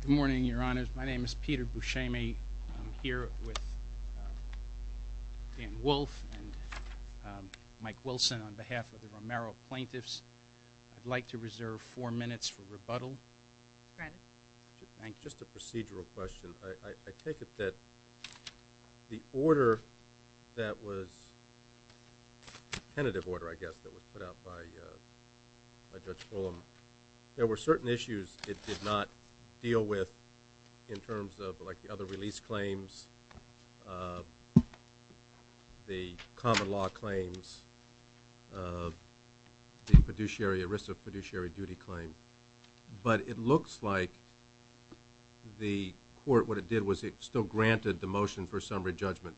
Good morning, Your Honor. My name is Peter Buscemi. I'm here with Dan Wolf and Mike Wilson on behalf of the Romero plaintiffs. I'd like to reserve four minutes for rebuttal. Just a procedural question. I take it that the order that was, the tentative order I guess that was put out by Judge Fulham, there were certain issues it did not deal with in terms of like the other release claims, the common law claims, the fiduciary, ERISA fiduciary duty claim. But it looks like the court, what it did was it still granted the motion for summary judgment.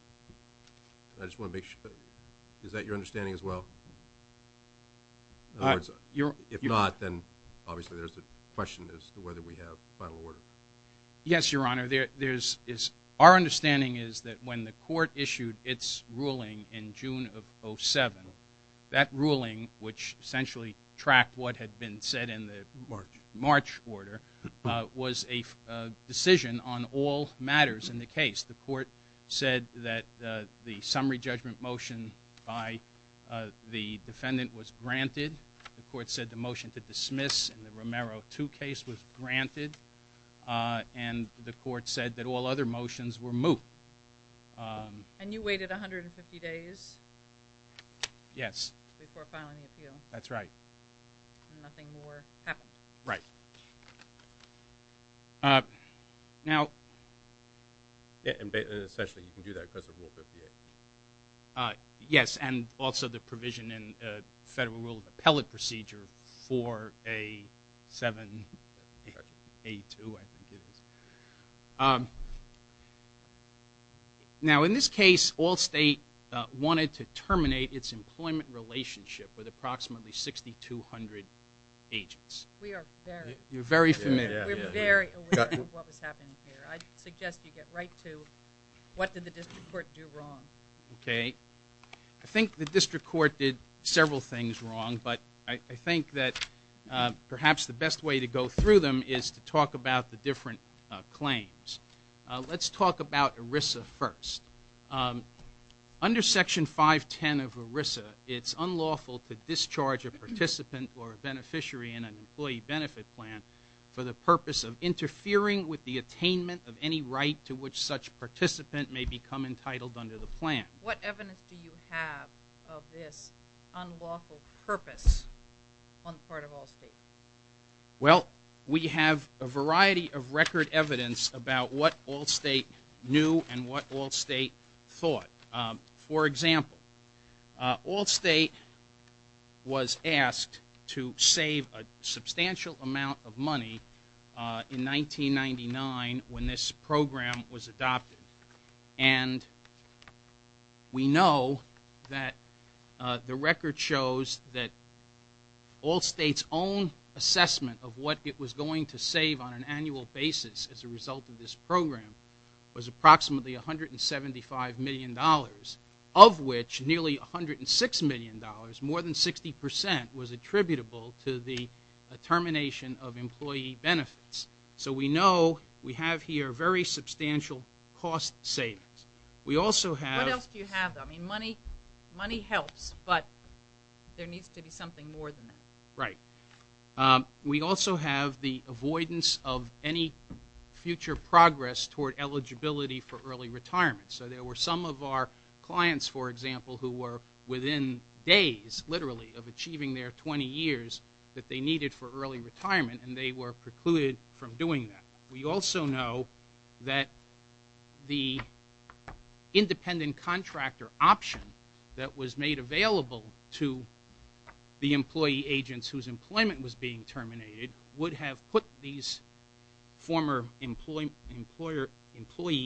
I just want to make sure. Is that your understanding as well? If not, then obviously there's a question as to whether we have a final order. Yes, Your Honor. Our understanding is that when the court issued its ruling in June of 07, that ruling which essentially tracked what had been said in the March order was a decision on all matters in the case. The court said that the summary judgment motion by the defendant was granted. The court said the motion to dismiss in the Romero 2 case was granted and the court said that all other motions were moot. And you waited 150 days? Yes. Before filing the appeal? That's right. And nothing more happened? Right. Now… And essentially you can do that because of Rule 58? Yes, and also the provision in Federal Rule of Appellate Procedure 4A7A2 I think it is. Now in this case, all state wanted to terminate its employment relationship with approximately 6,200 agents. We are very… You're very familiar. We're very aware of what was happening here. I suggest you get right to what did the district court do wrong? I think the district court did several things wrong, but I think that perhaps the best way to go through them is to talk about the different claims. Let's talk about ERISA first. Under Section 510 of ERISA, it's unlawful to discharge a participant or a beneficiary in an employee benefit plan for the purpose of interfering with the attainment of any right to which such participant may become entitled under the plan. What evidence do you have of this unlawful purpose on the part of Allstate? Well, we have a variety of record evidence about what Allstate knew and what Allstate thought. For example, Allstate was asked to save a substantial amount of money in 1999 when this program was adopted. And we know that the record shows that Allstate's own assessment of what it was going to save on an annual basis as a result of this program was approximately $175 million, of which nearly $106 million, more than 60%, was attributable to the termination of employee benefits. So we know we have here very substantial cost savings. We also have... What else do you have? I mean, money helps, but there needs to be something more than that. Right. We also have the avoidance of any future progress toward eligibility for early retirement. So there were some of our clients, for example, who were within days, literally, of achieving their 20 years that they needed for early retirement, and they were precluded from doing that. We also know that the independent contractor option that was made available to the employee agents whose employment was being terminated would have put these former employee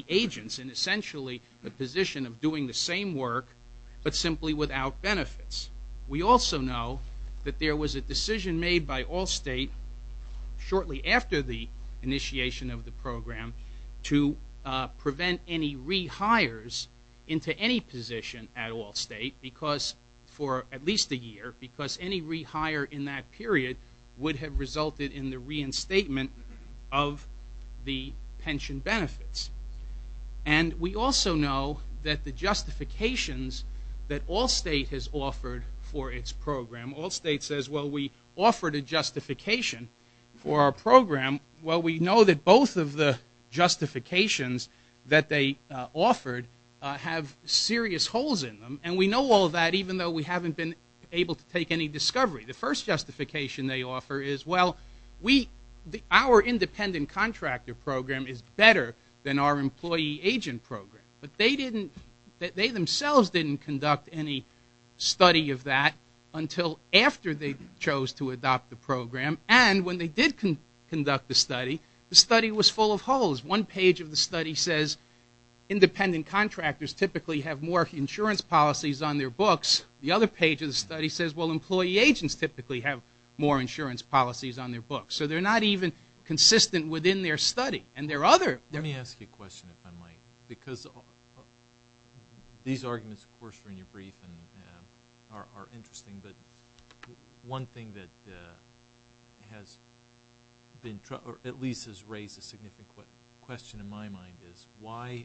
agents in, essentially, the position of doing the same work, but simply without benefits. We also know that there was a decision made by Allstate shortly after the initiation of the program to prevent any rehires into any position at Allstate for at least a year, because any rehire in that period would have resulted in the reinstatement of the pension benefits. And we also know that the justifications that Allstate has offered for its program... Allstate says, well, we offered a justification for our program. Well, we know that both of the justifications that they offered have serious holes in them, and we know all that even though we haven't been able to take any discovery. The first justification they offer is, well, our independent contractor program is better than our employee agent program, but they themselves didn't conduct any study of that until after they chose to adopt the program, and when they did conduct the study, the study was full of holes. One page of the study says independent contractors typically have more insurance policies on their books. The other page of the study says, well, employee agents typically have more insurance policies on their books. So they're not even consistent within their study, and their other... Let me ask you a question if I might, because these arguments, of course, are in your brief and are interesting, but one thing that at least has raised a significant question in my mind is, why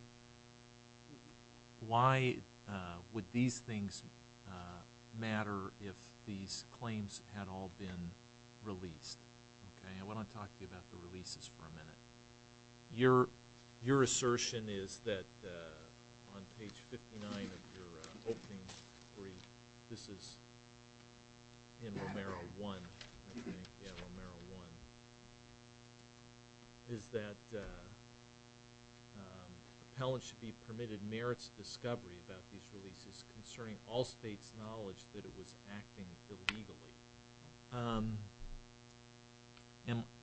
would these things matter if these claims had all been released? I want to talk to you about the releases for a minute. Your assertion is that on page 59 of your opening brief, this is in Romero 1, is that appellants should be permitted merits discovery about these releases concerning all states' knowledge that it was acting illegally.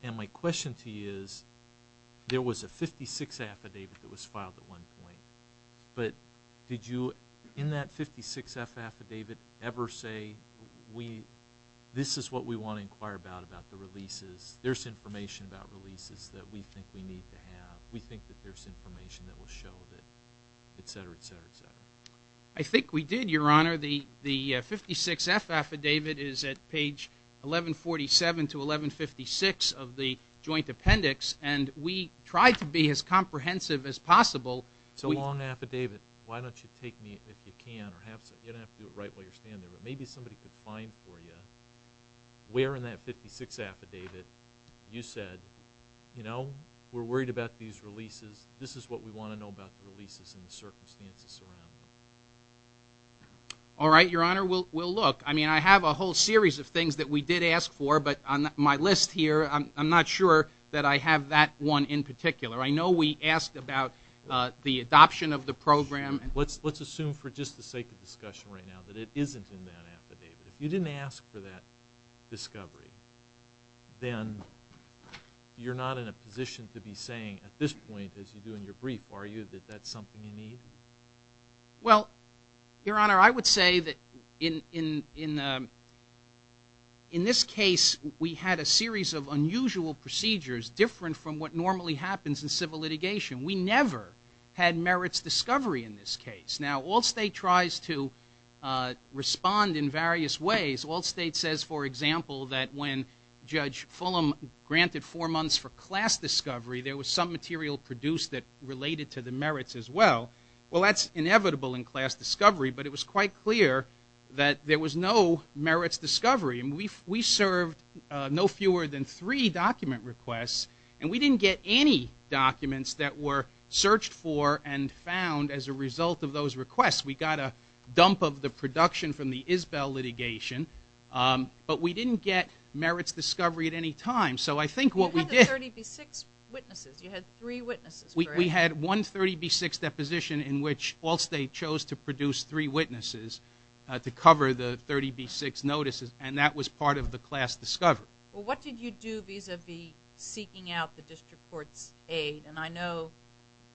And my question to you is, there was a 56th affidavit that was filed at one point, but did you in that 56th affidavit ever say, this is what we want to inquire about, about the releases. There's information about releases that we think we need to have. We think that there's information that will show that, etc., etc., etc. I think we did, Your Honor. The 56th affidavit is at page 1147 to 1156 of the joint appendix, and we tried to be as comprehensive as possible. It's a long affidavit. Why don't you take me, if you can, or you don't have to do it right while you're standing there, but maybe somebody could find for you where in that 56th affidavit you said, we're worried about these releases. This is what we want to know about the releases and the circumstances surrounding them. All right, Your Honor. We'll look. I mean, I have a whole series of things that we did ask for, but on my list here, I'm not sure that I have that one in particular. I know we asked about the adoption of the program. Let's assume for just the sake of discussion right now that it isn't in that affidavit. If you didn't ask for that discovery, then you're not in a position to be saying at this point, as you do in your brief, are you, that that's something you need? Well, Your Honor, I would say that in this case, we had a series of unusual procedures different from what normally happens in civil litigation. We never had merits discovery in this case. Now, Allstate tries to respond in various ways. Allstate says, for example, that when Judge Fulham granted four months for class discovery, there was some material produced that related to the merits as well. Well, that's inevitable in class discovery, but it was quite clear that there was no merits discovery, and we served no fewer than three document requests, and we didn't get any documents that were searched for and found as a result of those requests. We got a dump of the production from the Isbell litigation, but we didn't get merits discovery at any time. So I think what we did— You had the 30B6 witnesses. You had three witnesses, correct? We had one 30B6 deposition in which Allstate chose to produce three witnesses to cover the 30B6 notices, and that was part of the class discovery. Well, what did you do vis-a-vis seeking out the district court's aid? And I know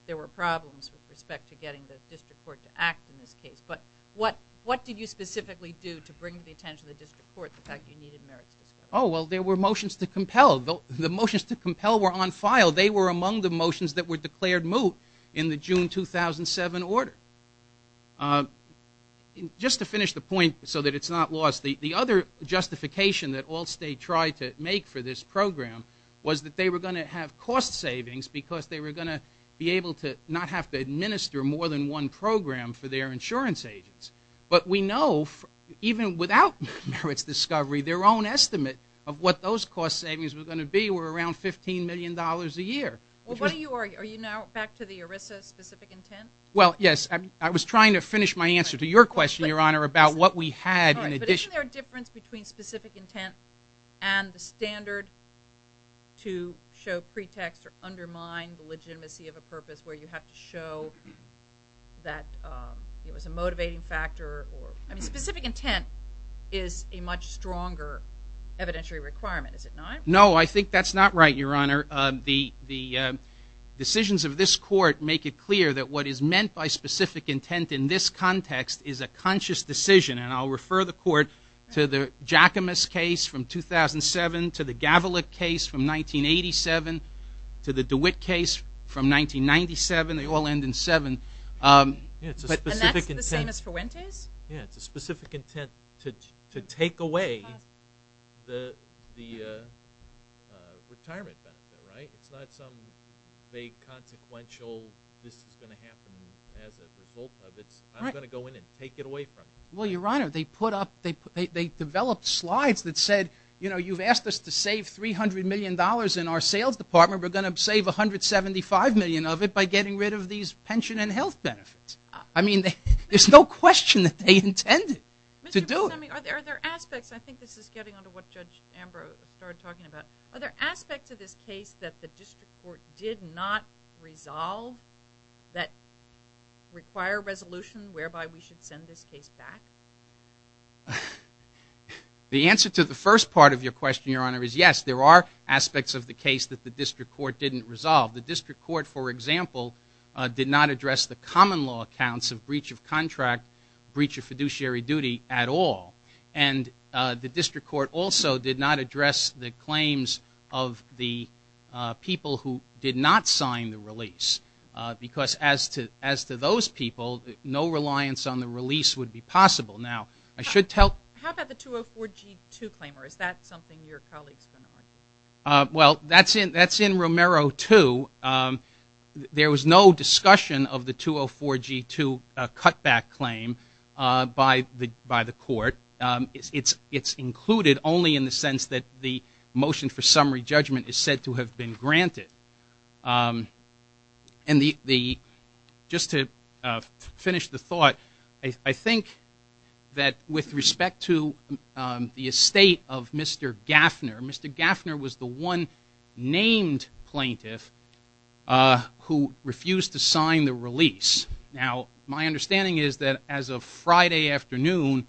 there were problems with respect to getting the district court to act in this case, but what did you specifically do to bring to the attention of the district court the fact you needed merits discovery? Oh, well, there were motions to compel. The motions to compel were on file. They were among the motions that were declared moot in the June 2007 order. Just to finish the point so that it's not lost, the other justification that Allstate tried to make for this program was that they were going to have cost savings because they were going to be able to not have to administer more than one program for their insurance agents. But we know even without merits discovery, their own estimate of what those cost savings were going to be were around $15 million a year. Are you now back to the ERISA specific intent? Well, yes. I was trying to finish my answer to your question, Your Honor, about what we had in addition. Isn't there a difference between specific intent and the standard to show pretext or undermine the legitimacy of a purpose where you have to show that it was a motivating factor? I mean, specific intent is a much stronger evidentiary requirement, is it not? No, I think that's not right, Your Honor. The decisions of this court make it clear that what is meant by specific intent in this context is a conscious decision, and I'll refer the court to the Giacomis case from 2007, to the Gavilic case from 1987, to the DeWitt case from 1997. They all end in seven. And that's the same as Fuentes? Yes, it's a specific intent to take away the retirement benefit, right? It's not some vague consequential this is going to happen as a result of it. I'm going to go in and take it away from you. Well, Your Honor, they put up, they developed slides that said, you know, you've asked us to save $300 million in our sales department. We're going to save $175 million of it by getting rid of these pension and health benefits. I mean, there's no question that they intended to do it. Mr. Buscemi, are there aspects, I think this is getting onto what Judge Ambrose started talking about, are there aspects of this case that the district court did not resolve that require resolution whereby we should send this case back? The answer to the first part of your question, Your Honor, is yes, there are aspects of the case that the district court didn't resolve. The district court, for example, did not address the common law accounts of breach of contract, breach of fiduciary duty at all. And the district court also did not address the claims of the people who did not sign the release. Because as to those people, no reliance on the release would be possible. Now, I should tell. How about the 204G2 claim? Or is that something your colleagues are going to argue? Well, that's in Romero 2. There was no discussion of the 204G2 cutback claim by the court. It's included only in the sense that the motion for summary judgment is said to have been granted. And just to finish the thought, I think that with respect to the estate of Mr. Gaffner, Mr. Gaffner was the one named plaintiff who refused to sign the release. Now, my understanding is that as of Friday afternoon,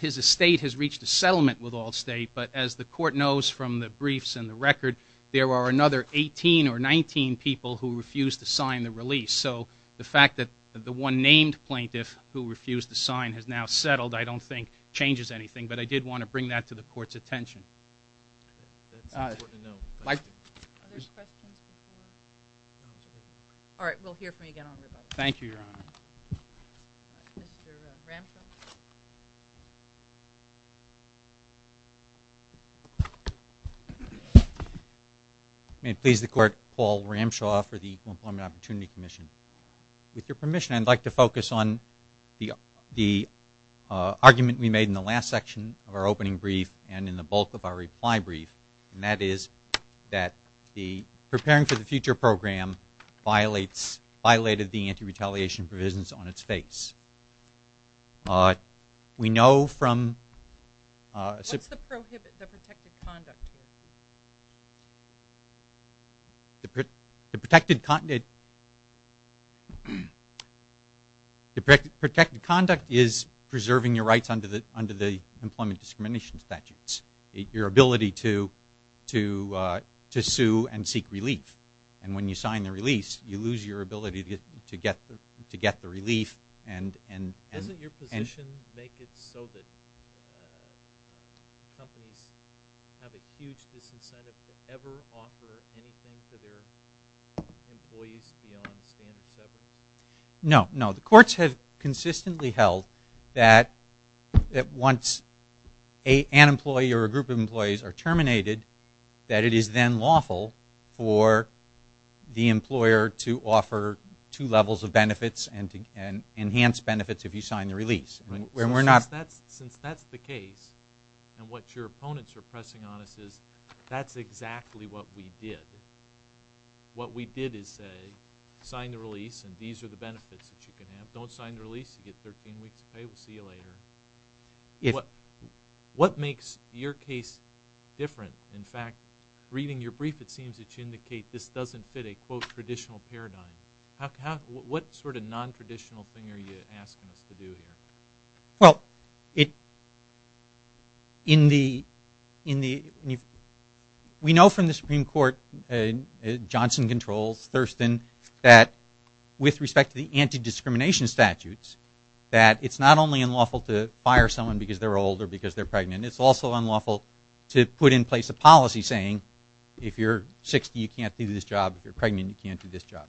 his estate has reached a settlement with Allstate. But as the court knows from the briefs and the record, there are another 18 or 19 people who refused to sign the release. So the fact that the one named plaintiff who refused to sign has now settled I don't think changes anything. But I did want to bring that to the court's attention. That's important to know. Are there questions? All right. We'll hear from you again on the rebuttal. Thank you, Your Honor. Mr. Ramshaw. May it please the court, Paul Ramshaw for the Equal Employment Opportunity Commission. With your permission, I'd like to focus on the argument we made in the last section of our opening brief and in the bulk of our reply brief, and that is that the Preparing for the Future program violated the anti-retaliation provisions on its face. We know from- What's the prohibited, the protected conduct here? The protected conduct is preserving your rights under the employment discrimination statutes, your ability to sue and seek relief. And when you sign the release, you lose your ability to get the relief and- Does this incentive ever offer anything to their employees beyond standard severance? No, no. The courts have consistently held that once an employee or a group of employees are terminated, that it is then lawful for the employer to offer two levels of benefits and enhance benefits if you sign the release. Since that's the case and what your opponents are pressing on us is that's exactly what we did. What we did is say, sign the release and these are the benefits that you can have. Don't sign the release. You get 13 weeks of pay. We'll see you later. What makes your case different? In fact, reading your brief, it seems that you indicate this doesn't fit a, quote, traditional paradigm. What sort of nontraditional thing are you asking us to do here? Well, we know from the Supreme Court, Johnson controls, Thurston, that with respect to the anti-discrimination statutes, that it's not only unlawful to fire someone because they're old or because they're pregnant. It's also unlawful to put in place a policy saying if you're 60, you can't do this job. If you're pregnant, you can't do this job.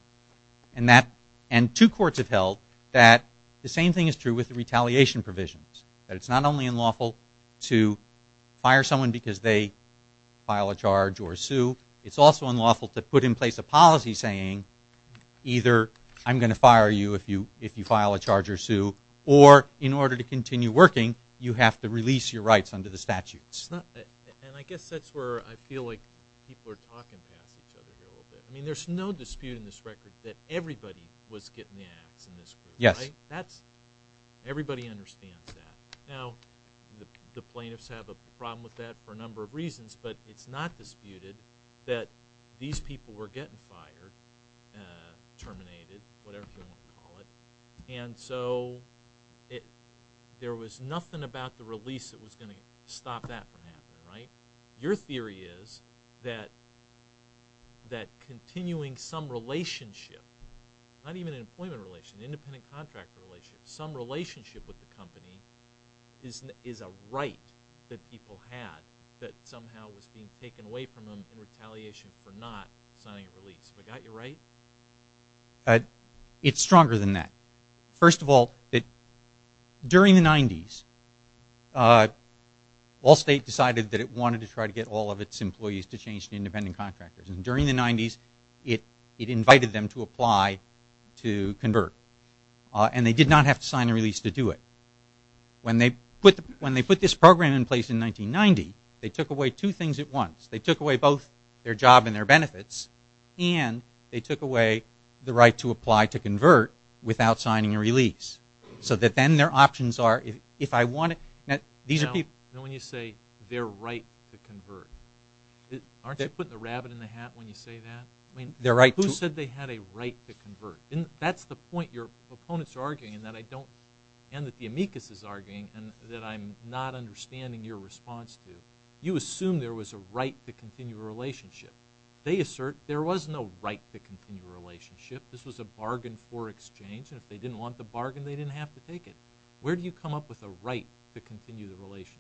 And two courts have held that the same thing is true with the retaliation provisions, that it's not only unlawful to fire someone because they file a charge or sue. It's also unlawful to put in place a policy saying either I'm going to fire you if you file a charge or sue or in order to continue working, you have to release your rights under the statutes. And I guess that's where I feel like people are talking past each other here a little bit. I mean, there's no dispute in this record that everybody was getting the ass in this group. Yes. Everybody understands that. Now, the plaintiffs have a problem with that for a number of reasons, but it's not disputed that these people were getting fired, terminated, whatever you want to call it. And so there was nothing about the release that was going to stop that from happening, right? Your theory is that continuing some relationship, not even an employment relationship, an independent contractor relationship, some relationship with the company is a right that people had that somehow was being taken away from them in retaliation for not signing a release. Have I got you right? It's stronger than that. First of all, during the 90s, Allstate decided that it wanted to try to get all of its employees to change to independent contractors. And during the 90s, it invited them to apply to convert. And they did not have to sign a release to do it. When they put this program in place in 1990, they took away two things at once. They took away both their job and their benefits, and they took away the right to apply to convert without signing a release. So that then their options are, if I want to... Now, when you say their right to convert, aren't you putting the rabbit in the hat when you say that? Who said they had a right to convert? That's the point your opponents are arguing, and that the amicus is arguing, and that I'm not understanding your response to. You assume there was a right to continue a relationship. They assert there was no right to continue a relationship. This was a bargain for exchange. And if they didn't want the bargain, they didn't have to take it. Where do you come up with a right to continue the relationship?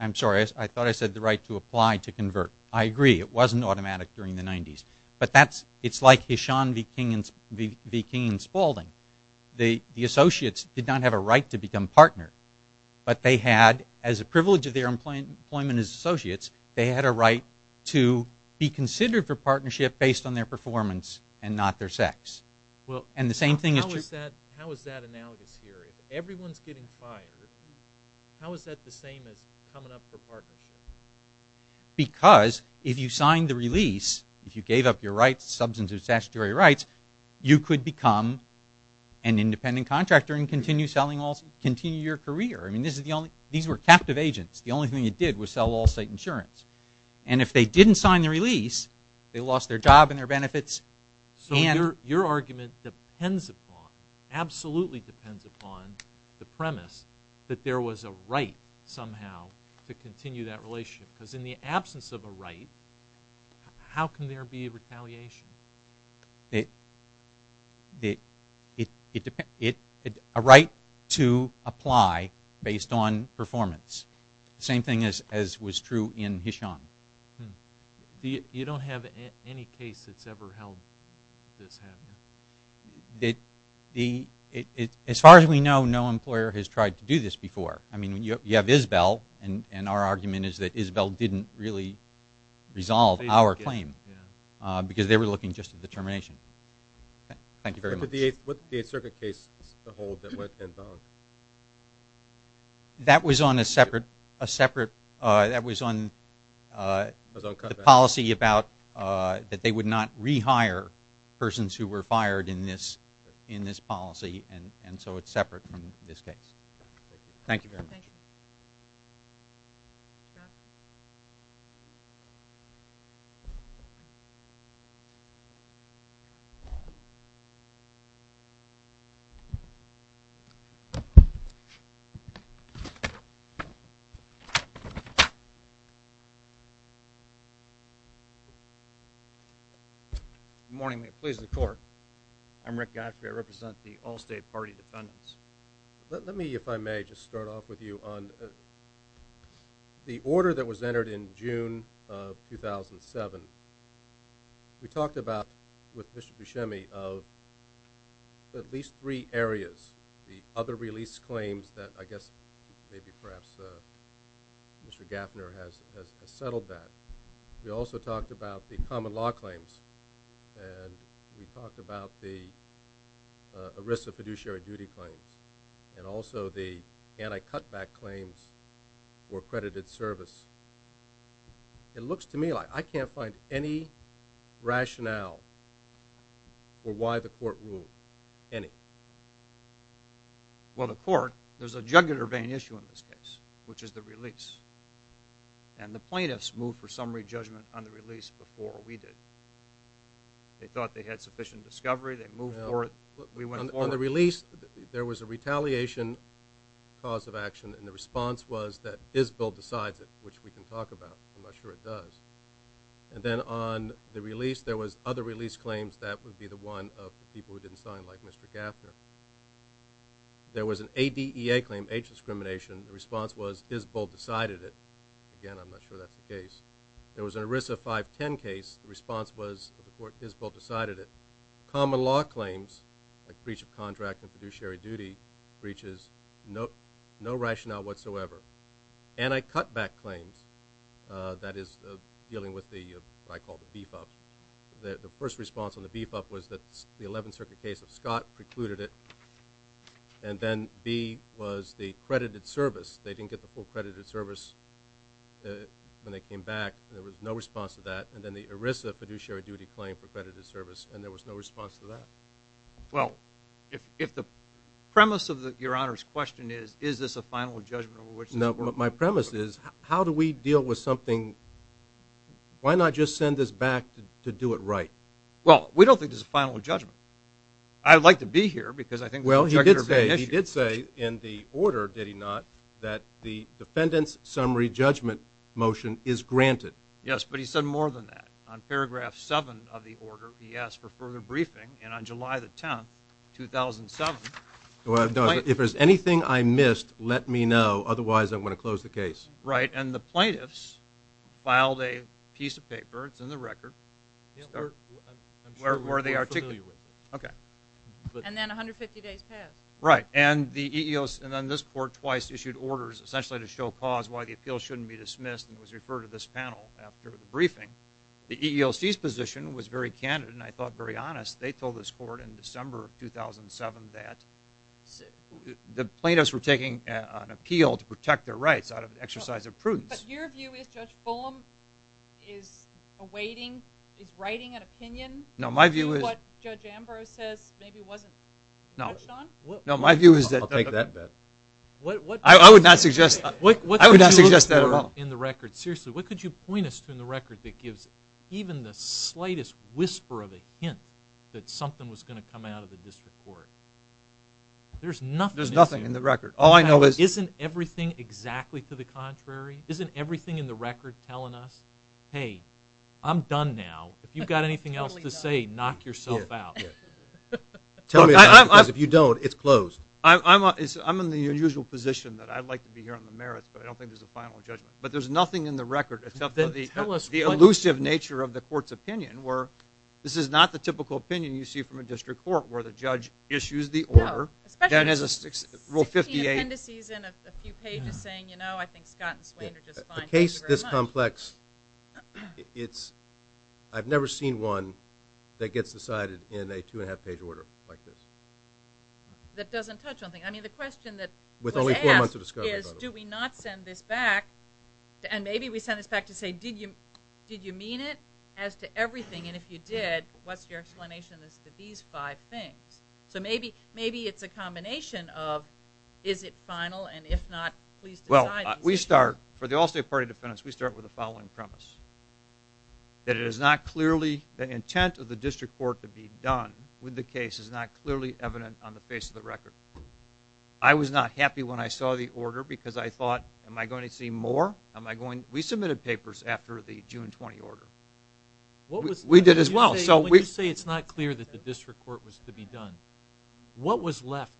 I'm sorry. I thought I said the right to apply to convert. I agree. It wasn't automatic during the 90s. But it's like Hisham V. King and Spalding. The associates did not have a right to become partners. But they had, as a privilege of their employment as associates, they had a right to be considered for partnership based on their performance and not their sex. How is that analogous here? If everyone's getting fired, how is that the same as coming up for partnership? Because if you signed the release, if you gave up your rights, substantive statutory rights, you could become an independent contractor and continue your career. These were captive agents. The only thing it did was sell all-state insurance. And if they didn't sign the release, they lost their job and their benefits. So your argument absolutely depends upon the premise that there was a right somehow to continue that relationship. Because in the absence of a right, how can there be retaliation? It depends. A right to apply based on performance. Same thing as was true in Hisham. You don't have any case that's ever held this, have you? As far as we know, no employer has tried to do this before. I mean, you have Isabel, and our argument is that Isabel didn't really resolve our claim because they were looking just at the termination. Thank you very much. What did the Eighth Circuit case hold that went unbound? That was on a separate policy about that they would not rehire persons who were fired in this policy, and so it's separate from this case. Thank you very much. Thank you. Good morning. Please, the Court. I'm Rick Gottfried. I represent the Allstate Party Defendants. Let me, if I may, just start off with you on the order that was entered in June of 2007. We talked about, with Mr. Buscemi, of at least three areas, the other release claims that I guess maybe perhaps Mr. Gaffner has settled that. We also talked about the common law claims, and we talked about the ERISA fiduciary duty claims and also the anti-cutback claims for accredited service. It looks to me like I can't find any rationale for why the Court ruled any. Well, the Court, there's a jugular vein issue in this case, which is the release, and the plaintiffs moved for summary judgment on the release before we did. They thought they had sufficient discovery. They moved forward. We went forward. On the release, there was a retaliation cause of action, and the response was that Isbell decides it, which we can talk about. I'm not sure it does. And then on the release, there was other release claims. That would be the one of people who didn't sign, like Mr. Gaffner. There was an ADEA claim, age discrimination. The response was Isbell decided it. Again, I'm not sure that's the case. There was an ERISA 510 case. The response was that the Court, Isbell decided it. Common law claims, like breach of contract and fiduciary duty breaches, no rationale whatsoever. Anti-cutback claims, that is dealing with what I call the beef up. The first response on the beef up was that the 11th Circuit case of Scott precluded it, and then B was the credited service. They didn't get the full credited service when they came back, and there was no response to that. And then the ERISA fiduciary duty claim for credited service, and there was no response to that. Well, if the premise of Your Honor's question is, is this a final judgment? No, but my premise is, how do we deal with something? Why not just send this back to do it right? Well, we don't think this is a final judgment. I'd like to be here, because I think the objectors are being issued. Well, he did say in the order, did he not, that the defendant's summary judgment motion is granted. Yes, but he said more than that. On paragraph 7 of the order, he asked for further briefing, and on July the 10th, 2007. Well, if there's anything I missed, let me know. Otherwise, I'm going to close the case. Right, and the plaintiffs filed a piece of paper. It's in the record. I'm sure we're familiar with it. Okay. And then 150 days passed. Right, and then this court twice issued orders essentially to show cause why the appeal shouldn't be dismissed, and it was referred to this panel after the briefing. The EEOC's position was very candid, and I thought very honest. They told this court in December of 2007 that the plaintiffs were taking an appeal to protect their rights out of an exercise of prudence. But your view is Judge Fulham is awaiting, is writing an opinion? No, my view is. What Judge Ambrose says maybe wasn't touched on? No, my view is that. I'll take that. I would not suggest that at all. In the record, seriously, what could you point us to in the record that gives even the slightest whisper of a hint that something was going to come out of the district court? There's nothing. There's nothing in the record. All I know is. Isn't everything exactly to the contrary? Isn't everything in the record telling us, hey, I'm done now. If you've got anything else to say, knock yourself out. Tell me about it, because if you don't, it's closed. I'm in the unusual position that I'd like to be here on the merits, but I don't think there's a final judgment. But there's nothing in the record except for the elusive nature of the court's opinion where this is not the typical opinion you see from a district court where the judge issues the order. Rule 58. Fifteen appendices in a few pages saying, you know, I think Scott and Swain are just fine. In a case this complex, I've never seen one that gets decided in a two-and-a-half-page order like this. That doesn't touch on things. I mean, the question that was asked is, do we not send this back? And maybe we send this back to say, did you mean it as to everything? And if you did, what's your explanation as to these five things? So maybe it's a combination of is it final, and if not, please decide. Well, we start, for the Allstate Party defendants, we start with the following premise, that it is not clearly the intent of the district court to be done with the case is not clearly evident on the face of the record. I was not happy when I saw the order because I thought, am I going to see more? We submitted papers after the June 20 order. We did as well. When you say it's not clear that the district court was to be done, what was left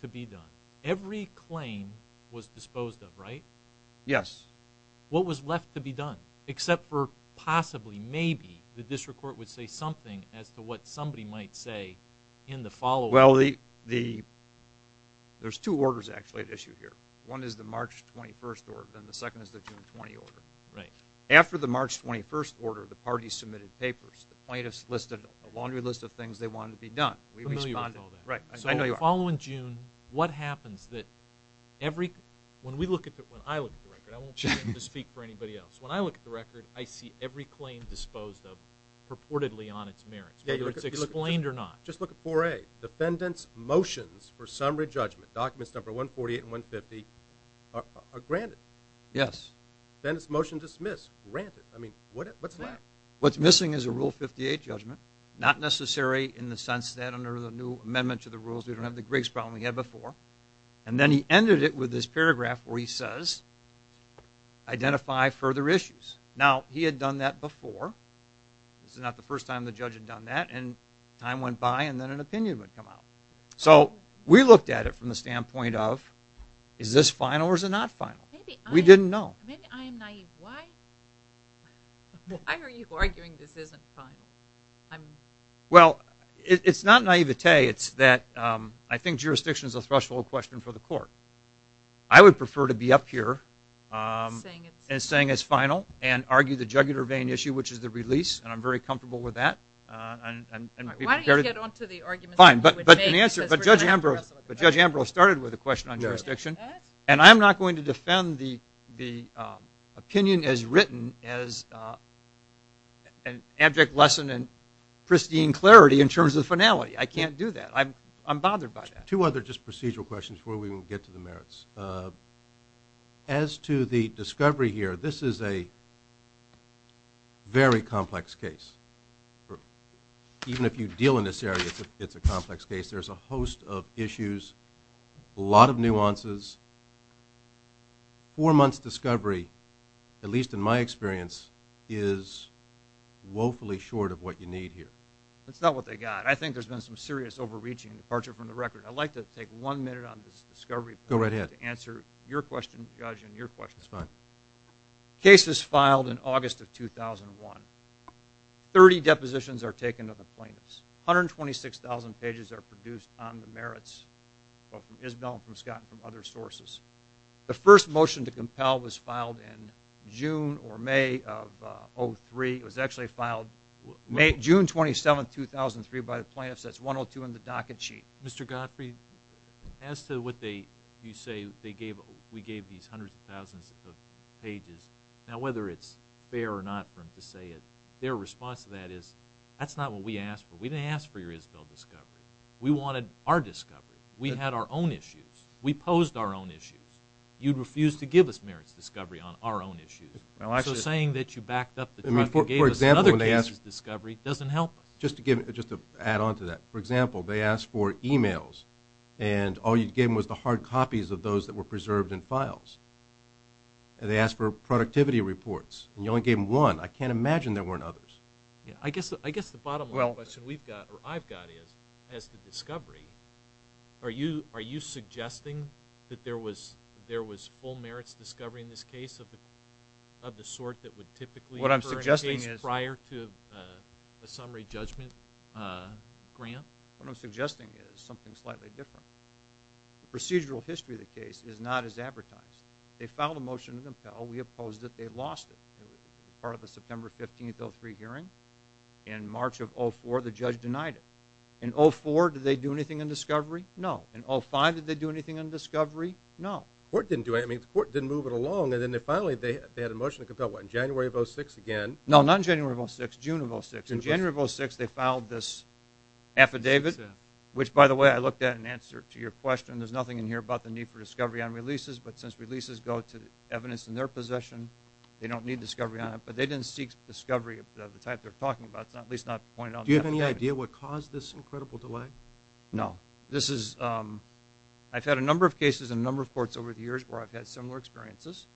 to be done? Every claim was disposed of, right? Yes. What was left to be done, except for possibly, maybe, the district court would say something as to what somebody might say in the following? Well, there's two orders, actually, at issue here. One is the March 21st order, and the second is the June 20 order. After the March 21st order, the party submitted papers. The plaintiffs listed a laundry list of things they wanted to be done. We responded. I know you are. So the following June, what happens? When I look at the record, I won't be able to speak for anybody else. When I look at the record, I see every claim disposed of purportedly on its merits, whether it's explained or not. Just look at 4A. Defendants' motions for summary judgment, documents number 148 and 150, are granted. Yes. Then it's motion dismissed, granted. I mean, what's left? What's missing is a Rule 58 judgment. Not necessary in the sense that under the new amendment to the rules, we don't have the Griggs problem we had before. And then he ended it with this paragraph where he says, identify further issues. Now, he had done that before. This is not the first time the judge had done that. And time went by, and then an opinion would come out. So we looked at it from the standpoint of, is this final or is it not final? We didn't know. Maybe I am naive. Why are you arguing this isn't final? Well, it's not naivete. It's that I think jurisdiction is a threshold question for the court. I would prefer to be up here and saying it's final and argue the jugular vein issue, which is the release, and I'm very comfortable with that. Why don't you get on to the arguments that you would make? Fine. But Judge Ambrose started with a question on jurisdiction, and I'm not going to defend the opinion as written as an abject lesson in pristine clarity in terms of finality. I can't do that. I'm bothered by that. Two other just procedural questions before we get to the merits. As to the discovery here, this is a very complex case. Even if you deal in this area, it's a complex case. There's a host of issues, a lot of nuances. Four months' discovery, at least in my experience, is woefully short of what you need here. That's not what they got. I think there's been some serious overreaching and departure from the record. I'd like to take one minute on this discovery point. Go right ahead. To answer your question, Judge, and your question. That's fine. Case is filed in August of 2001. 30 depositions are taken of the plaintiffs. 126,000 pages are produced on the merits, both from Isbell and from Scott and from other sources. The first motion to compel was filed in June or May of 2003. It was actually filed June 27, 2003, by the plaintiffs. That's 102 in the docket sheet. Mr. Godfrey, as to what you say we gave these hundreds of thousands of pages, now whether it's fair or not for them to say it, their response to that is that's not what we asked for. We didn't ask for your Isbell discovery. We wanted our discovery. We had our own issues. We posed our own issues. You refused to give us merits discovery on our own issues. So saying that you backed up the trial and gave us another case's discovery doesn't help us. Just to add on to that, for example, they asked for e-mails, and all you gave them was the hard copies of those that were preserved in files. They asked for productivity reports, and you only gave them one. I can't imagine there weren't others. I guess the bottom line question I've got is, as to discovery, are you suggesting that there was full merits discovery in this case of the sort that would typically occur prior to a summary judgment grant? What I'm suggesting is something slightly different. The procedural history of the case is not as advertised. They filed a motion to compel. We opposed it. They lost it. It was part of the September 15, 2003 hearing. In March of 2004, the judge denied it. In 2004, did they do anything on discovery? No. In 2005, did they do anything on discovery? No. The court didn't do anything. The court didn't move it along, and then finally they had a motion to compel. What, in January of 2006 again? No, not in January of 2006, June of 2006. In January of 2006, they filed this affidavit, which, by the way, I looked at in answer to your question. There's nothing in here about the need for discovery on releases, but since releases go to evidence in their possession, they don't need discovery on it. But they didn't seek discovery of the type they're talking about, at least not pointed out in the affidavit. Do you have any idea what caused this incredible delay? No. I've had a number of cases in a number of courts over the years where I've had similar experiences.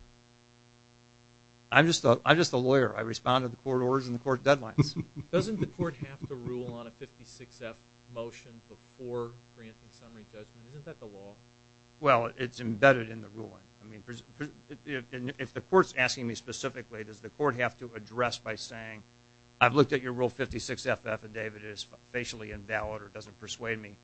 I'm just a lawyer. I respond to the court orders and the court deadlines. Doesn't the court have to rule on a 56-F motion before granting summary judgment? Isn't that the law? Well, it's embedded in the ruling. If the court's asking me specifically, does the court have to address by saying, I've looked at your Rule 56-F affidavit. It is facially invalid or doesn't persuade me.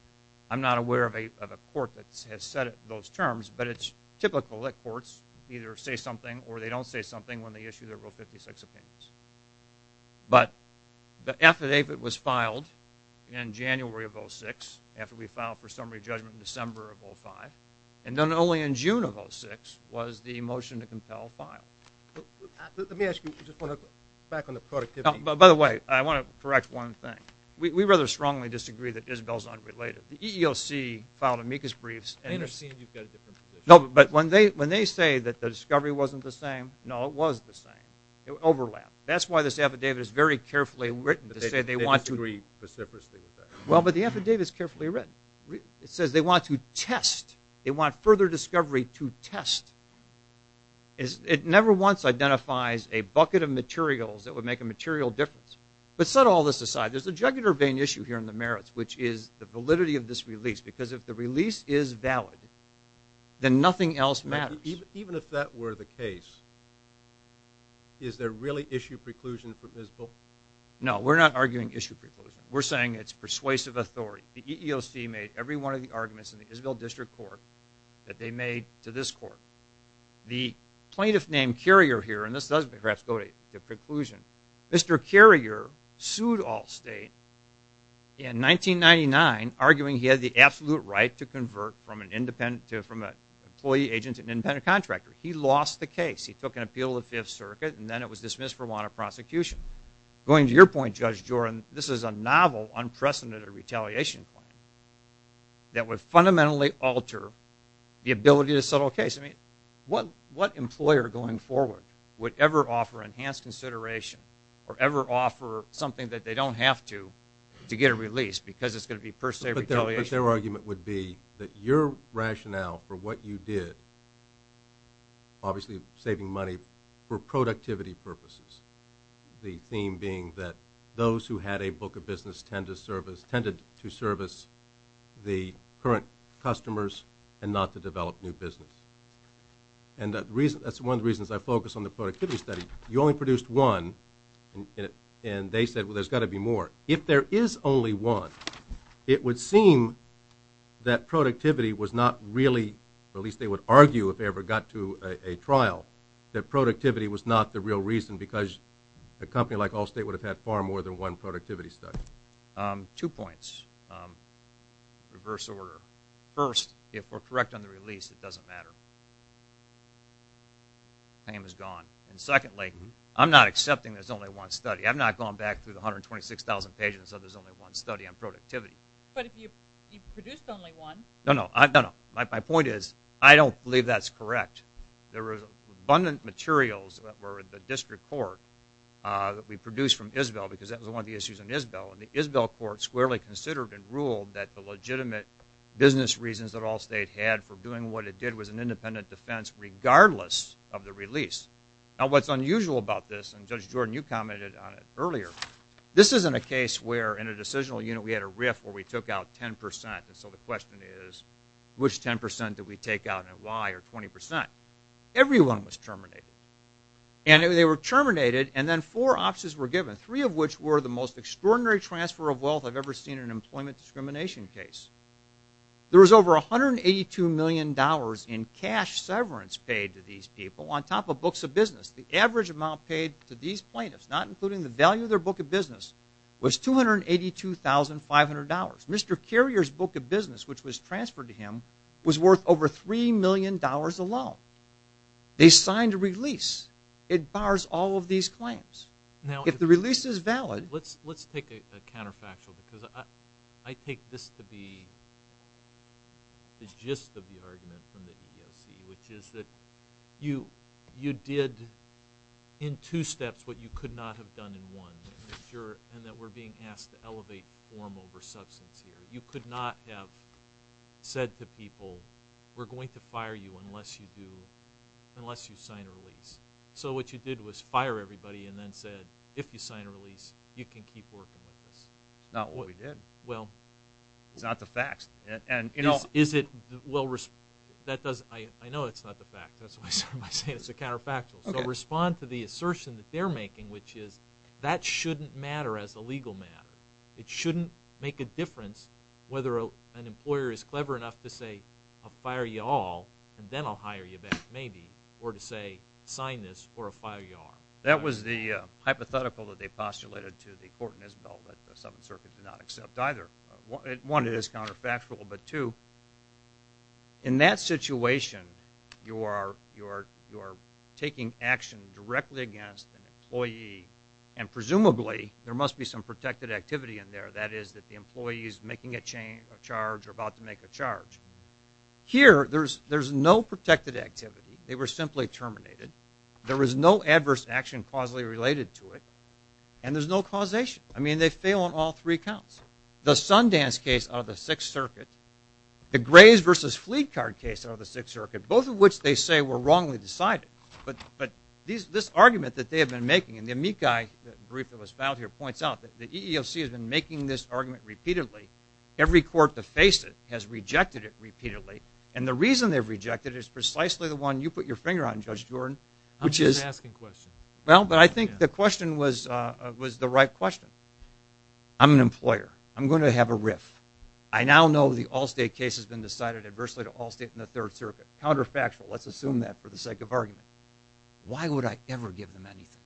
I'm not aware of a court that has said it in those terms, but it's typical that courts either say something or they don't say something when they issue their Rule 56 opinions. But the affidavit was filed in January of 2006, after we filed for summary judgment in December of 2005, and then only in June of 2006 was the motion to compel filed. Let me ask you, just back on the productivity. By the way, I want to correct one thing. We rather strongly disagree that Isabel's unrelated. The EEOC filed amicus briefs. I understand you've got a different position. No, but when they say that the discovery wasn't the same, no, it was the same. It overlapped. That's why this affidavit is very carefully written to say they want to. They disagree reciprocally with that. Well, but the affidavit's carefully written. It says they want to test. They want further discovery to test. It never once identifies a bucket of materials that would make a material difference. But set all this aside, there's a jugular vein issue here in the merits, which is the validity of this release. Because if the release is valid, then nothing else matters. Even if that were the case, is there really issue preclusion for Isabel? No, we're not arguing issue preclusion. We're saying it's persuasive authority. The EEOC made every one of the arguments in the Isabel District Court that they made to this court. The plaintiff named Carrier here, and this does perhaps go to preclusion, Mr. Carrier sued Allstate in 1999, arguing he had the absolute right to convert from an employee agent to an independent contractor. He lost the case. He took an appeal to the Fifth Circuit, and then it was dismissed for want of prosecution. Going to your point, Judge Jordan, this is a novel, unprecedented retaliation plan that would fundamentally alter the ability to settle a case. I mean, what employer going forward would ever offer enhanced consideration or ever offer something that they don't have to to get a release because it's going to be per se retaliation? But their argument would be that your rationale for what you did, obviously saving money for productivity purposes, the theme being that those who had a book of business tended to service the current customers and not to develop new business. And that's one of the reasons I focus on the productivity study. You only produced one, and they said, well, there's got to be more. If there is only one, it would seem that productivity was not really, or at least they would argue if they ever got to a trial, that productivity was not the real reason because a company like Allstate would have had far more than one productivity study. Two points. Reverse order. First, if we're correct on the release, it doesn't matter. The claim is gone. And secondly, I'm not accepting there's only one study. I've not gone back through the 126,000 pages and said there's only one study on productivity. But if you produced only one. No, no. My point is I don't believe that's correct. There was abundant materials that were at the district court that we produced from Isbell because that was one of the issues in Isbell, and the Isbell court squarely considered and ruled that the legitimate business reasons that Allstate had for doing what it did was an independent defense regardless of the release. Now, what's unusual about this, and Judge Jordan, you commented on it earlier, this isn't a case where in a decisional unit we had a riff where we took out 10%. And so the question is which 10% did we take out and why, or 20%. Everyone was terminated. And they were terminated, and then four options were given, three of which were the most extraordinary transfer of wealth I've ever seen in an employment discrimination case. There was over $182 million in cash severance paid to these people on top of books of business. The average amount paid to these plaintiffs, not including the value of their book of business, was $282,500. Mr. Carrier's book of business, which was transferred to him, was worth over $3 million alone. They signed a release. It bars all of these claims. Now, if the release is valid. Let's take a counterfactual because I take this to be the gist of the argument from the EEOC, which is that you did in two steps what you could not have done in one, and that we're being asked to elevate form over substance here. You could not have said to people, we're going to fire you unless you sign a release. So what you did was fire everybody and then said, if you sign a release, you can keep working with us. Not what we did. Well. It's not the facts. Is it? Well, I know it's not the facts. That's why I started by saying it's a counterfactual. So respond to the assertion that they're making, which is that shouldn't matter as a legal matter. It shouldn't make a difference whether an employer is clever enough to say, I'll fire you all, and then I'll hire you back maybe, or to say, sign this or fire you all. That was the hypothetical that they postulated to the court in Isbell that the Seventh Circuit did not accept either. One, it is counterfactual. But two, in that situation, you are taking action directly against an employee, and presumably there must be some protected activity in there. That is, that the employee is making a charge or about to make a charge. Here, there's no protected activity. They were simply terminated. There was no adverse action causally related to it, and there's no causation. I mean, they fail on all three counts. The Sundance case out of the Sixth Circuit, the Graves v. Fleet Card case out of the Sixth Circuit, both of which they say were wrongly decided, but this argument that they have been making, and the Amikai brief that was filed here points out that the EEOC has been making this argument repeatedly. Every court that faced it has rejected it repeatedly, and the reason they've rejected it is precisely the one you put your finger on, Judge Jordan. I'm just asking a question. Well, but I think the question was the right question. I'm an employer. I'm going to have a riff. I now know the Allstate case has been decided adversely to Allstate in the Third Circuit, counterfactual. Let's assume that for the sake of argument. Why would I ever give them anything?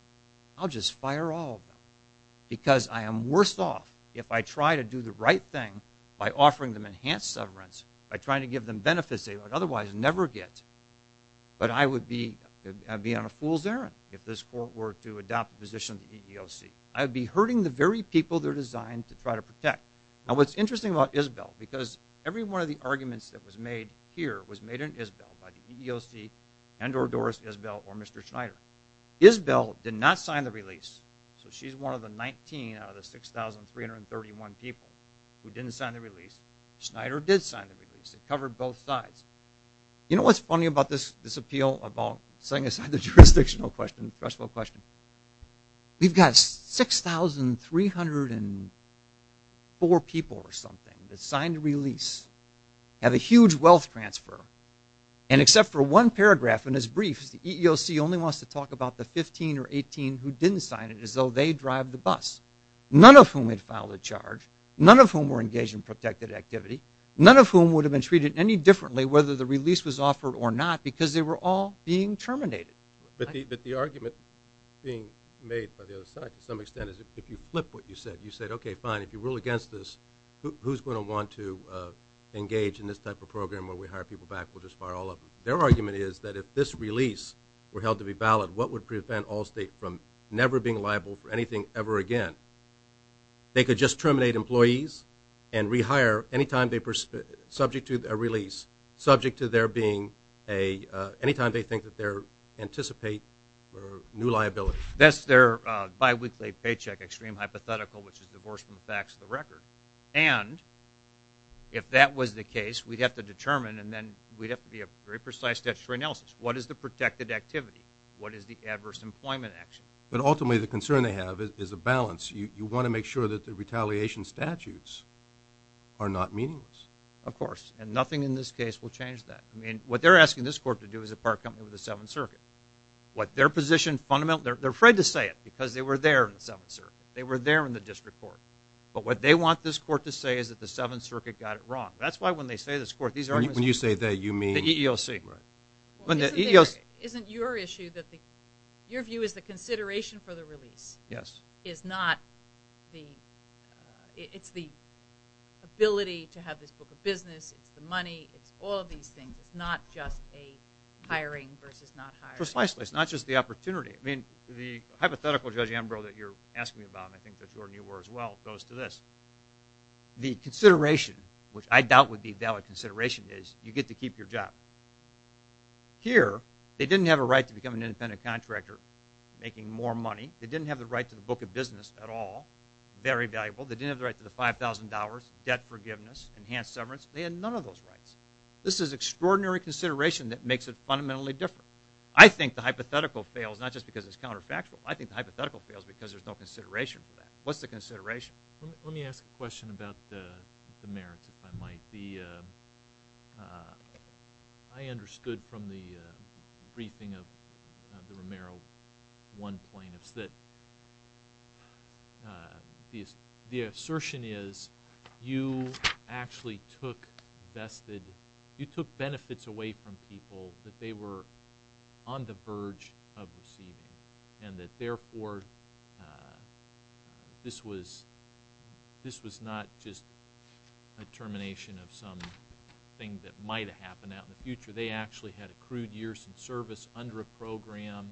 I'll just fire all of them because I am worse off if I try to do the right thing by offering them enhanced severance, by trying to give them benefits they would otherwise never get, but I would be on a fool's errand if this court were to adopt the position of the EEOC. I would be hurting the very people they're designed to try to protect. Now, what's interesting about Isabel, because every one of the arguments that was made here was made in Isabel, by the EEOC and or Doris Isabel or Mr. Schneider. Isabel did not sign the release, so she's one of the 19 out of the 6,331 people who didn't sign the release. Schneider did sign the release. It covered both sides. You know what's funny about this appeal about setting aside the jurisdictional question, threshold question? We've got 6,304 people or something that signed the release, had a huge wealth transfer, and except for one paragraph in his brief, the EEOC only wants to talk about the 15 or 18 who didn't sign it as though they drive the bus, none of whom had filed a charge, none of whom were engaged in protected activity, none of whom would have been treated any differently whether the release was offered or not because they were all being terminated. But the argument being made by the other side to some extent is if you flip what you said, you said, okay, fine. If you rule against this, who's going to want to engage in this type of program where we hire people back? We'll just fire all of them. Their argument is that if this release were held to be valid, what would prevent Allstate from never being liable for anything ever again? They could just terminate employees and rehire any time they're subject to a release, subject to there being a ñ anytime they think that they anticipate new liability. That's their biweekly paycheck extreme hypothetical, which is divorced from the facts of the record. And if that was the case, we'd have to determine and then we'd have to be a very precise statutory analysis. What is the protected activity? What is the adverse employment action? But ultimately, the concern they have is a balance. You want to make sure that the retaliation statutes are not meaningless. Of course. And nothing in this case will change that. I mean, what they're asking this court to do is a part company with the Seventh Circuit. What their position fundamental ñ they're afraid to say it because they were there in the Seventh Circuit. They were there in the district court. But what they want this court to say is that the Seventh Circuit got it wrong. That's why when they say this court, these arguments ñ When you say that, you mean ñ The EEOC. Right. Well, isn't there ñ isn't your issue that the ñ your view is the consideration for the release. Yes. Is not the ñ it's the ability to have this book of business. It's the money. It's all of these things. It's not just a hiring versus not hiring. Precisely. It's not just the opportunity. I mean, the hypothetical, Judge Ambrose, that you're asking me about, and I think that Jordan, you were as well, goes to this. The consideration, which I doubt would be a valid consideration, is you get to keep your job. Here, they didn't have a right to become an independent contractor making more money. They didn't have the right to the book of business at all. Very valuable. They didn't have the right to the $5,000, debt forgiveness, enhanced severance. They had none of those rights. This is extraordinary consideration that makes it fundamentally different. I think the hypothetical fails not just because it's counterfactual. I think the hypothetical fails because there's no consideration for that. What's the consideration? Let me ask a question about the merits, if I might. I understood from the briefing of the Romero 1 plaintiffs that the assertion is you actually took vested – you took benefits away from people that they were on the verge of receiving and that, therefore, this was not just a termination of something that might have happened out in the future. They actually had accrued years in service under a program,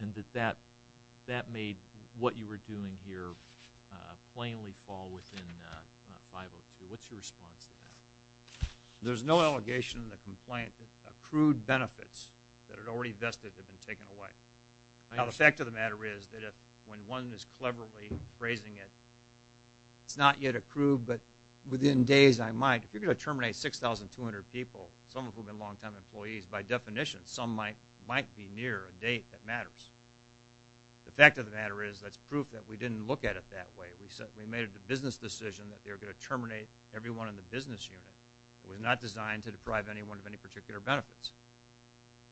and that that made what you were doing here plainly fall within 502. What's your response to that? There's no allegation in the complaint that accrued benefits that had already vested had been taken away. Now, the fact of the matter is that when one is cleverly phrasing it, it's not yet accrued, but within days, I might. If you're going to terminate 6,200 people, some of whom have been long-time employees, by definition, some might be near a date that matters. The fact of the matter is that's proof that we didn't look at it that way. We made a business decision that they were going to terminate everyone in the business unit. It was not designed to deprive anyone of any particular benefits.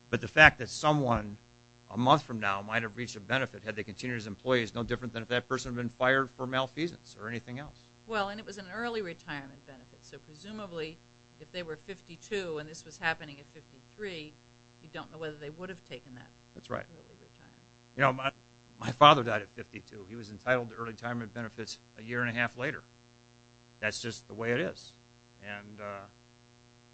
But the fact that someone a month from now might have reached a benefit had they continued as employees is no different than if that person had been fired for malfeasance or anything else. Well, and it was an early retirement benefit, so presumably if they were 52 and this was happening at 53, you don't know whether they would have taken that early retirement. You know, my father died at 52. He was entitled to early retirement benefits a year and a half later. That's just the way it is, and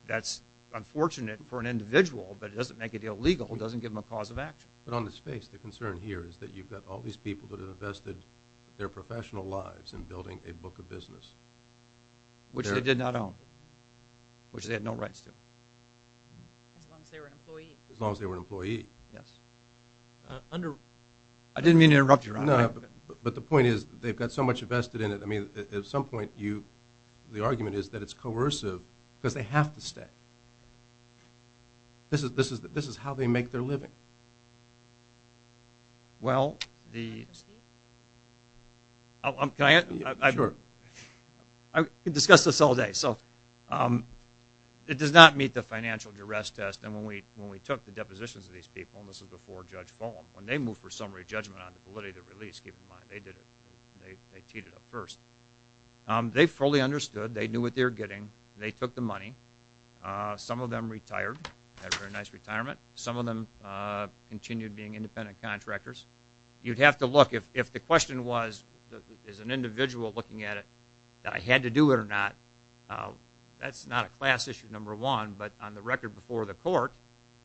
that's unfortunate for an individual, but it doesn't make a deal legal. It doesn't give them a cause of action. But on the space, the concern here is that you've got all these people that have invested their professional lives in building a book of business. Which they did not own, which they had no rights to. As long as they were an employee. As long as they were an employee, yes. I didn't mean to interrupt you. No, but the point is they've got so much invested in it. I mean, at some point the argument is that it's coercive because they have to stay. This is how they make their living. Well, can I answer? Sure. I could discuss this all day. So it does not meet the financial duress test. When we took the depositions of these people, and this was before Judge Fulham, when they moved for summary judgment on the validity of the release, keep in mind, they did it. They teed it up first. They fully understood. They knew what they were getting. They took the money. Some of them retired, had a very nice retirement. Some of them continued being independent contractors. You'd have to look. If the question was, is an individual looking at it, that I had to do it or not, that's not a class issue, number one. But on the record before the court,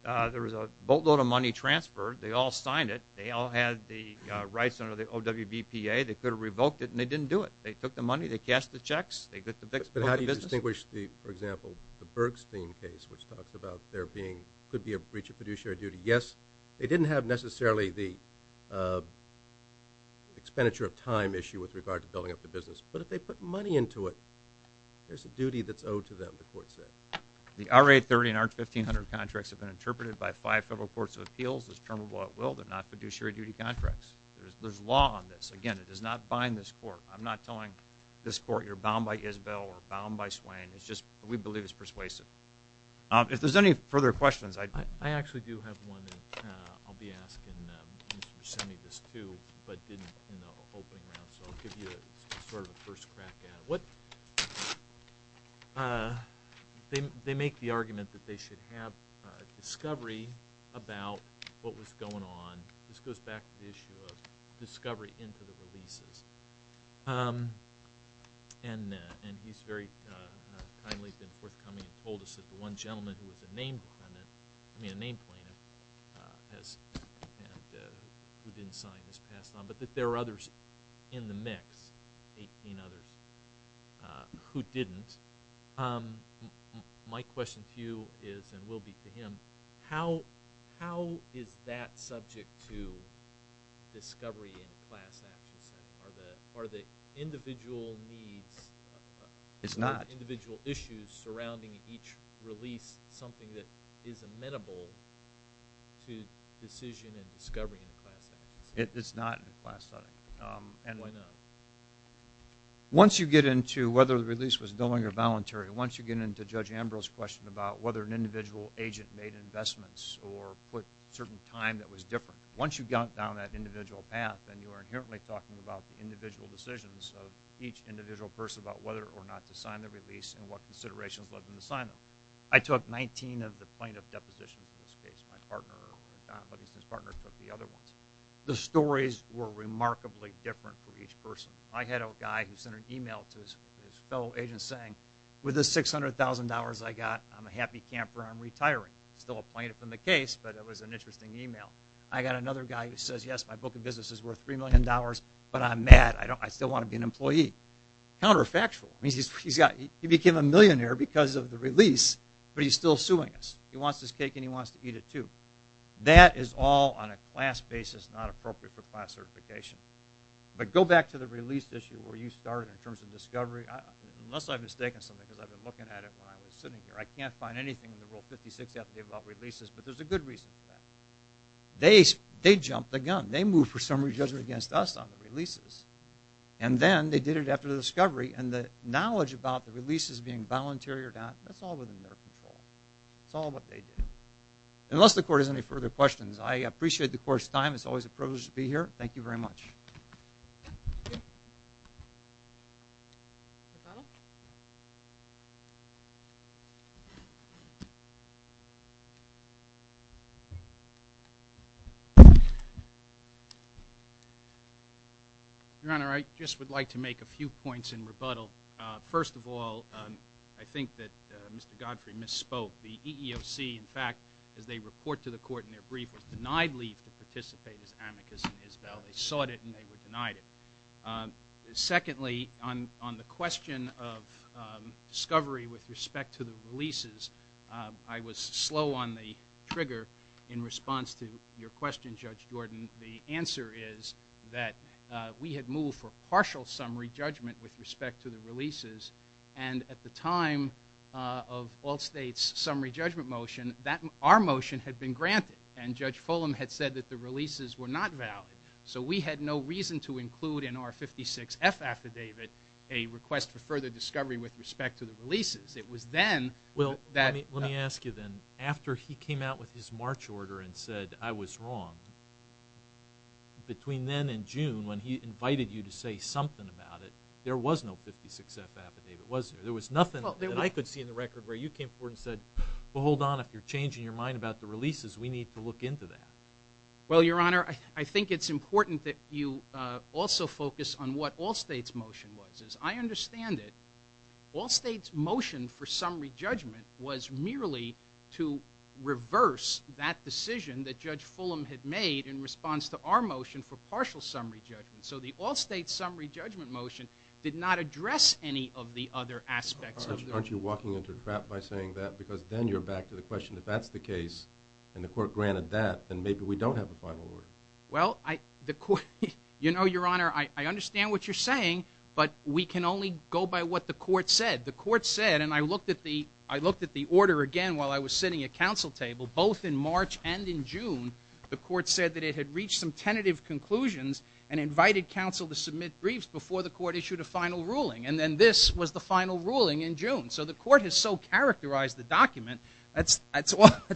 there was a boatload of money transferred. They all signed it. They all had the rights under the OWBPA. They could have revoked it, and they didn't do it. They took the money. They cashed the checks. They got the books. But how do you distinguish, for example, the Bergstein case, which talks about there being, could be a breach of fiduciary duty? Yes, they didn't have necessarily the expenditure of time issue with regard to building up the business. But if they put money into it, there's a duty that's owed to them, the court said. The RA-30 and R-1500 contracts have been interpreted by five federal courts of appeals as termable at will, they're not fiduciary duty contracts. There's law on this. Again, it does not bind this court. I'm not telling this court you're bound by Isbell or bound by Swain. It's just we believe it's persuasive. If there's any further questions, I'd be happy to. I actually do have one that I'll be asking Mr. Semi this too, but didn't in the opening round. So I'll give you sort of a first crack at it. What they make the argument that they should have discovery about what was going on. This goes back to the issue of discovery into the releases. And he's very kindly been forthcoming and told us that the one gentleman who was a name plaintiff, I mean a name plaintiff who didn't sign was passed on, but that there were others in the mix, 18 others, who didn't. My question to you is and will be to him, how is that subject to discovery in class actions? Are the individual needs or individual issues surrounding each release something that is amenable to decision and discovery in class actions? It's not in a class setting. Why not? Once you get into whether the release was willing or voluntary, once you get into Judge Ambrose's question about whether an individual agent made investments or put certain time that was different, once you got down that individual path, then you are inherently talking about the individual decisions of each individual person about whether or not to sign the release and what considerations led them to sign them. I took 19 of the plaintiff depositions in this case. My partner took the other ones. The stories were remarkably different for each person. I had a guy who sent an email to his fellow agent saying with the $600,000 I got, I'm a happy camper, I'm retiring. Still a plaintiff in the case, but it was an interesting email. I got another guy who says, yes, my book of business is worth $3 million, but I'm mad. I still want to be an employee. Counterfactual. He became a millionaire because of the release, but he's still suing us. He wants his cake and he wants to eat it too. That is all on a class basis, not appropriate for class certification. But go back to the release issue where you started in terms of discovery. Unless I've mistaken something because I've been looking at it when I was sitting here. I can't find anything in the Rule 56 FDA about releases, but there's a good reason for that. They jumped the gun. They moved for summary judgment against us on the releases. Then they did it after the discovery, and the knowledge about the releases being voluntary or not, that's all within their control. It's all what they did. Unless the court has any further questions, I appreciate the court's time. It's always a privilege to be here. Thank you very much. Your Honor, I just would like to make a few points in rebuttal. First of all, I think that Mr. Godfrey misspoke. The EEOC, in fact, as they report to the court in their brief, was denied leave to participate as amicus in Isbell. They sought it and they were denied it. Secondly, on the question of discovery with respect to the releases, I was slow on the trigger in response to your question, Judge Jordan. The answer is that we had moved for partial summary judgment with respect to the releases, and at the time of all states' summary judgment motion, our motion had been granted, and Judge Fulham had said that the releases were not valid. So we had no reason to include in our 56F affidavit a request for further discovery with respect to the releases. Well, let me ask you then. After he came out with his March order and said, I was wrong, between then and June when he invited you to say something about it, there was no 56F affidavit, wasn't there? There was nothing that I could see in the record where you came forward and said, well, hold on, if you're changing your mind about the releases, we need to look into that. Well, Your Honor, I think it's important that you also focus on what all states' motion was. I understand it. All states' motion for summary judgment was merely to reverse that decision that Judge Fulham had made in response to our motion for partial summary judgment. So the all states' summary judgment motion did not address any of the other aspects. Aren't you walking into a trap by saying that? Because then you're back to the question, if that's the case and the court granted that, then maybe we don't have a final order. Well, you know, Your Honor, I understand what you're saying, but we can only go by what the court said. The court said, and I looked at the order again while I was sitting at counsel table, both in March and in June, the court said that it had reached some tentative conclusions and invited counsel to submit briefs before the court issued a final ruling. And then this was the final ruling in June. So the court has so characterized the document. That's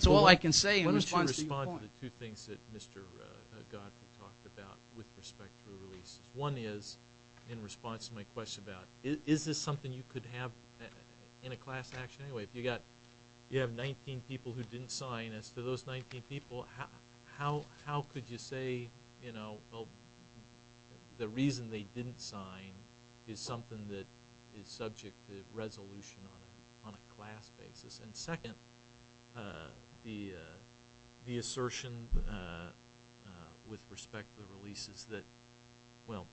all I can say in response to your point. Why don't you respond to the two things that Mr. Godfrey talked about with respect to the release. One is, in response to my question about, is this something you could have in a class action anyway? If you have 19 people who didn't sign, as for those 19 people, how could you say, you know, well, the reason they didn't sign is something that is subject to resolution on a class basis? And second, the assertion with respect to the releases that – well,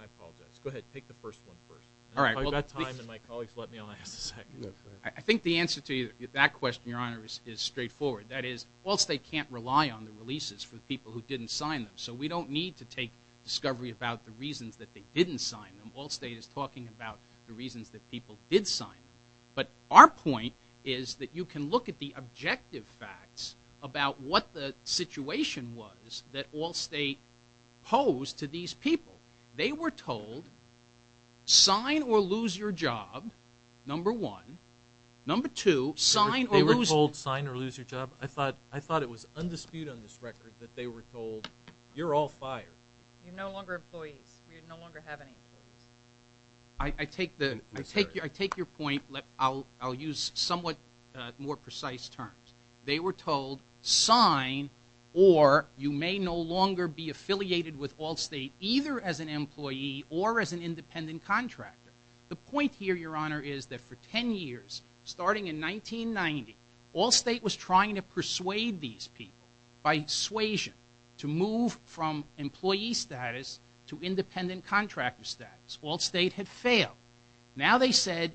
I apologize. Go ahead. Take the first one first. If I've got time and my colleagues let me, I'll ask the second. I think the answer to that question, Your Honor, is straightforward. That is, Wall State can't rely on the releases for the people who didn't sign them. So we don't need to take discovery about the reasons that they didn't sign them. Wall State is talking about the reasons that people did sign them. But our point is that you can look at the objective facts about what the situation was that Wall State posed to these people. They were told, sign or lose your job, number one. Number two, sign or lose – They were told, sign or lose your job? I thought it was undisputed on this record that they were told, you're all fired. You're no longer employees. We no longer have any employees. I take your point. I'll use somewhat more precise terms. They were told, sign or you may no longer be affiliated with Wall State either as an employee or as an independent contractor. The point here, Your Honor, is that for 10 years, starting in 1990, Wall State was trying to persuade these people by suasion to move from employee status to independent contractor status. Wall State had failed. Now they said,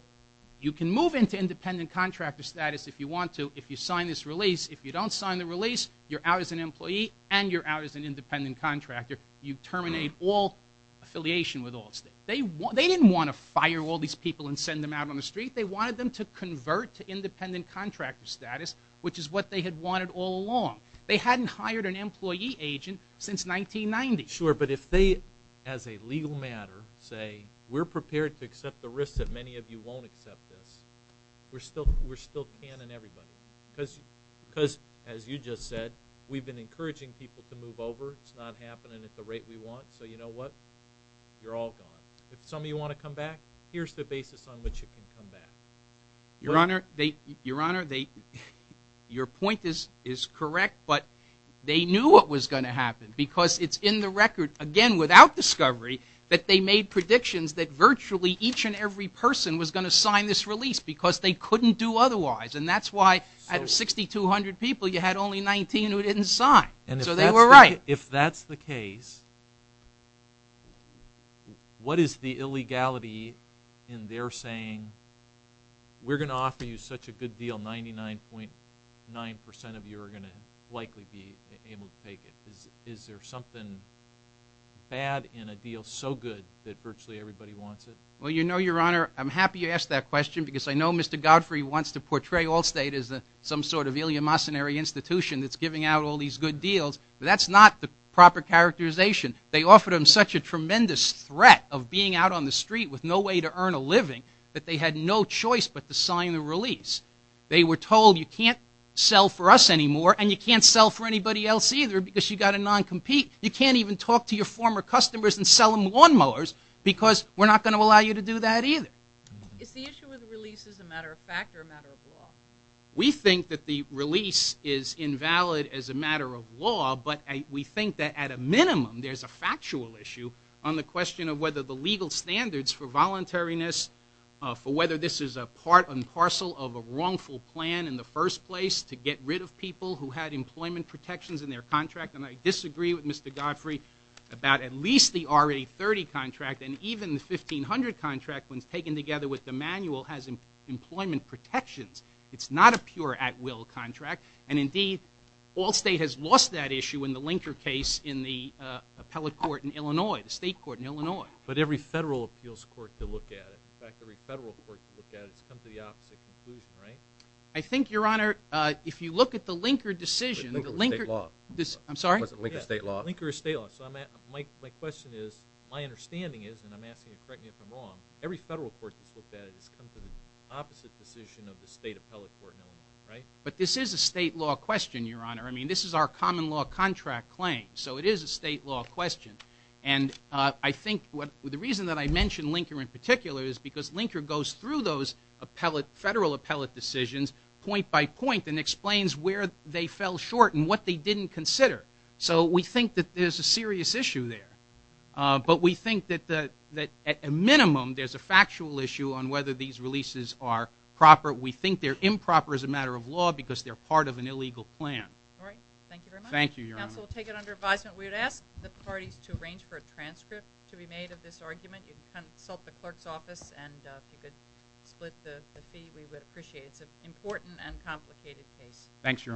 you can move into independent contractor status if you want to if you sign this release. If you don't sign the release, you're out as an employee and you're out as an independent contractor. You terminate all affiliation with Wall State. They didn't want to fire all these people and send them out on the street. They wanted them to convert to independent contractor status, which is what they had wanted all along. They hadn't hired an employee agent since 1990. Sure, but if they, as a legal matter, say, we're prepared to accept the risk that many of you won't accept this, we're still canning everybody. Because, as you just said, we've been encouraging people to move over. It's not happening at the rate we want, so you know what? You're all gone. If some of you want to come back, here's the basis on which you can come back. Your Honor, your point is correct, but they knew what was going to happen because it's in the record, again, without discovery that they made predictions that virtually each and every person was going to sign this release because they couldn't do otherwise, and that's why out of 6,200 people, you had only 19 who didn't sign. So they were right. If that's the case, what is the illegality in their saying, we're going to offer you such a good deal, 99.9% of you are going to likely be able to take it? Is there something bad in a deal so good that virtually everybody wants it? Well, you know, your Honor, I'm happy you asked that question because I know Mr. Godfrey wants to portray Allstate as some sort of Iliya Masinari institution that's giving out all these good deals, but that's not the proper characterization. They offered them such a tremendous threat of being out on the street with no way to earn a living that they had no choice but to sign the release. They were told you can't sell for us anymore and you can't sell for anybody else either because you've got to non-compete. You can't even talk to your former customers and sell them lawnmowers because we're not going to allow you to do that either. Is the issue with the release a matter of fact or a matter of law? We think that the release is invalid as a matter of law, but we think that at a minimum, there's a factual issue on the question of whether the legal standards for voluntariness, for whether this is a part and parcel of a wrongful plan in the first place to get rid of people who had employment protections in their contract, and I disagree with Mr. Godfrey about at least the RA30 contract and even the 1500 contract when it's taken together with the manual has employment protections. It's not a pure at-will contract, and indeed, all state has lost that issue in the Linker case in the appellate court in Illinois, the state court in Illinois. But every federal appeals court can look at it. In fact, every federal court can look at it. It's come to the opposite conclusion, right? I think, Your Honor, if you look at the Linker decision, the Linker… But Linker was state law. I'm sorry? Linker was state law. Linker is state law. So my question is, my understanding is, and I'm asking you to correct me if I'm wrong, every federal court that's looked at it has come to the opposite decision of the state appellate court in Illinois, right? But this is a state law question, Your Honor. I mean, this is our common law contract claim, so it is a state law question. And I think the reason that I mention Linker in particular is because Linker goes through those federal appellate decisions point by point and explains where they fell short and what they didn't consider. So we think that there's a serious issue there. But we think that, at a minimum, there's a factual issue on whether these releases are proper. We think they're improper as a matter of law because they're part of an illegal plan. All right. Thank you very much. Thank you, Your Honor. Counsel will take it under advisement. We would ask the parties to arrange for a transcript to be made of this argument. You can consult the clerk's office, and if you could split the fee, we would appreciate it. It's an important and complicated case. Thanks, Your Honor.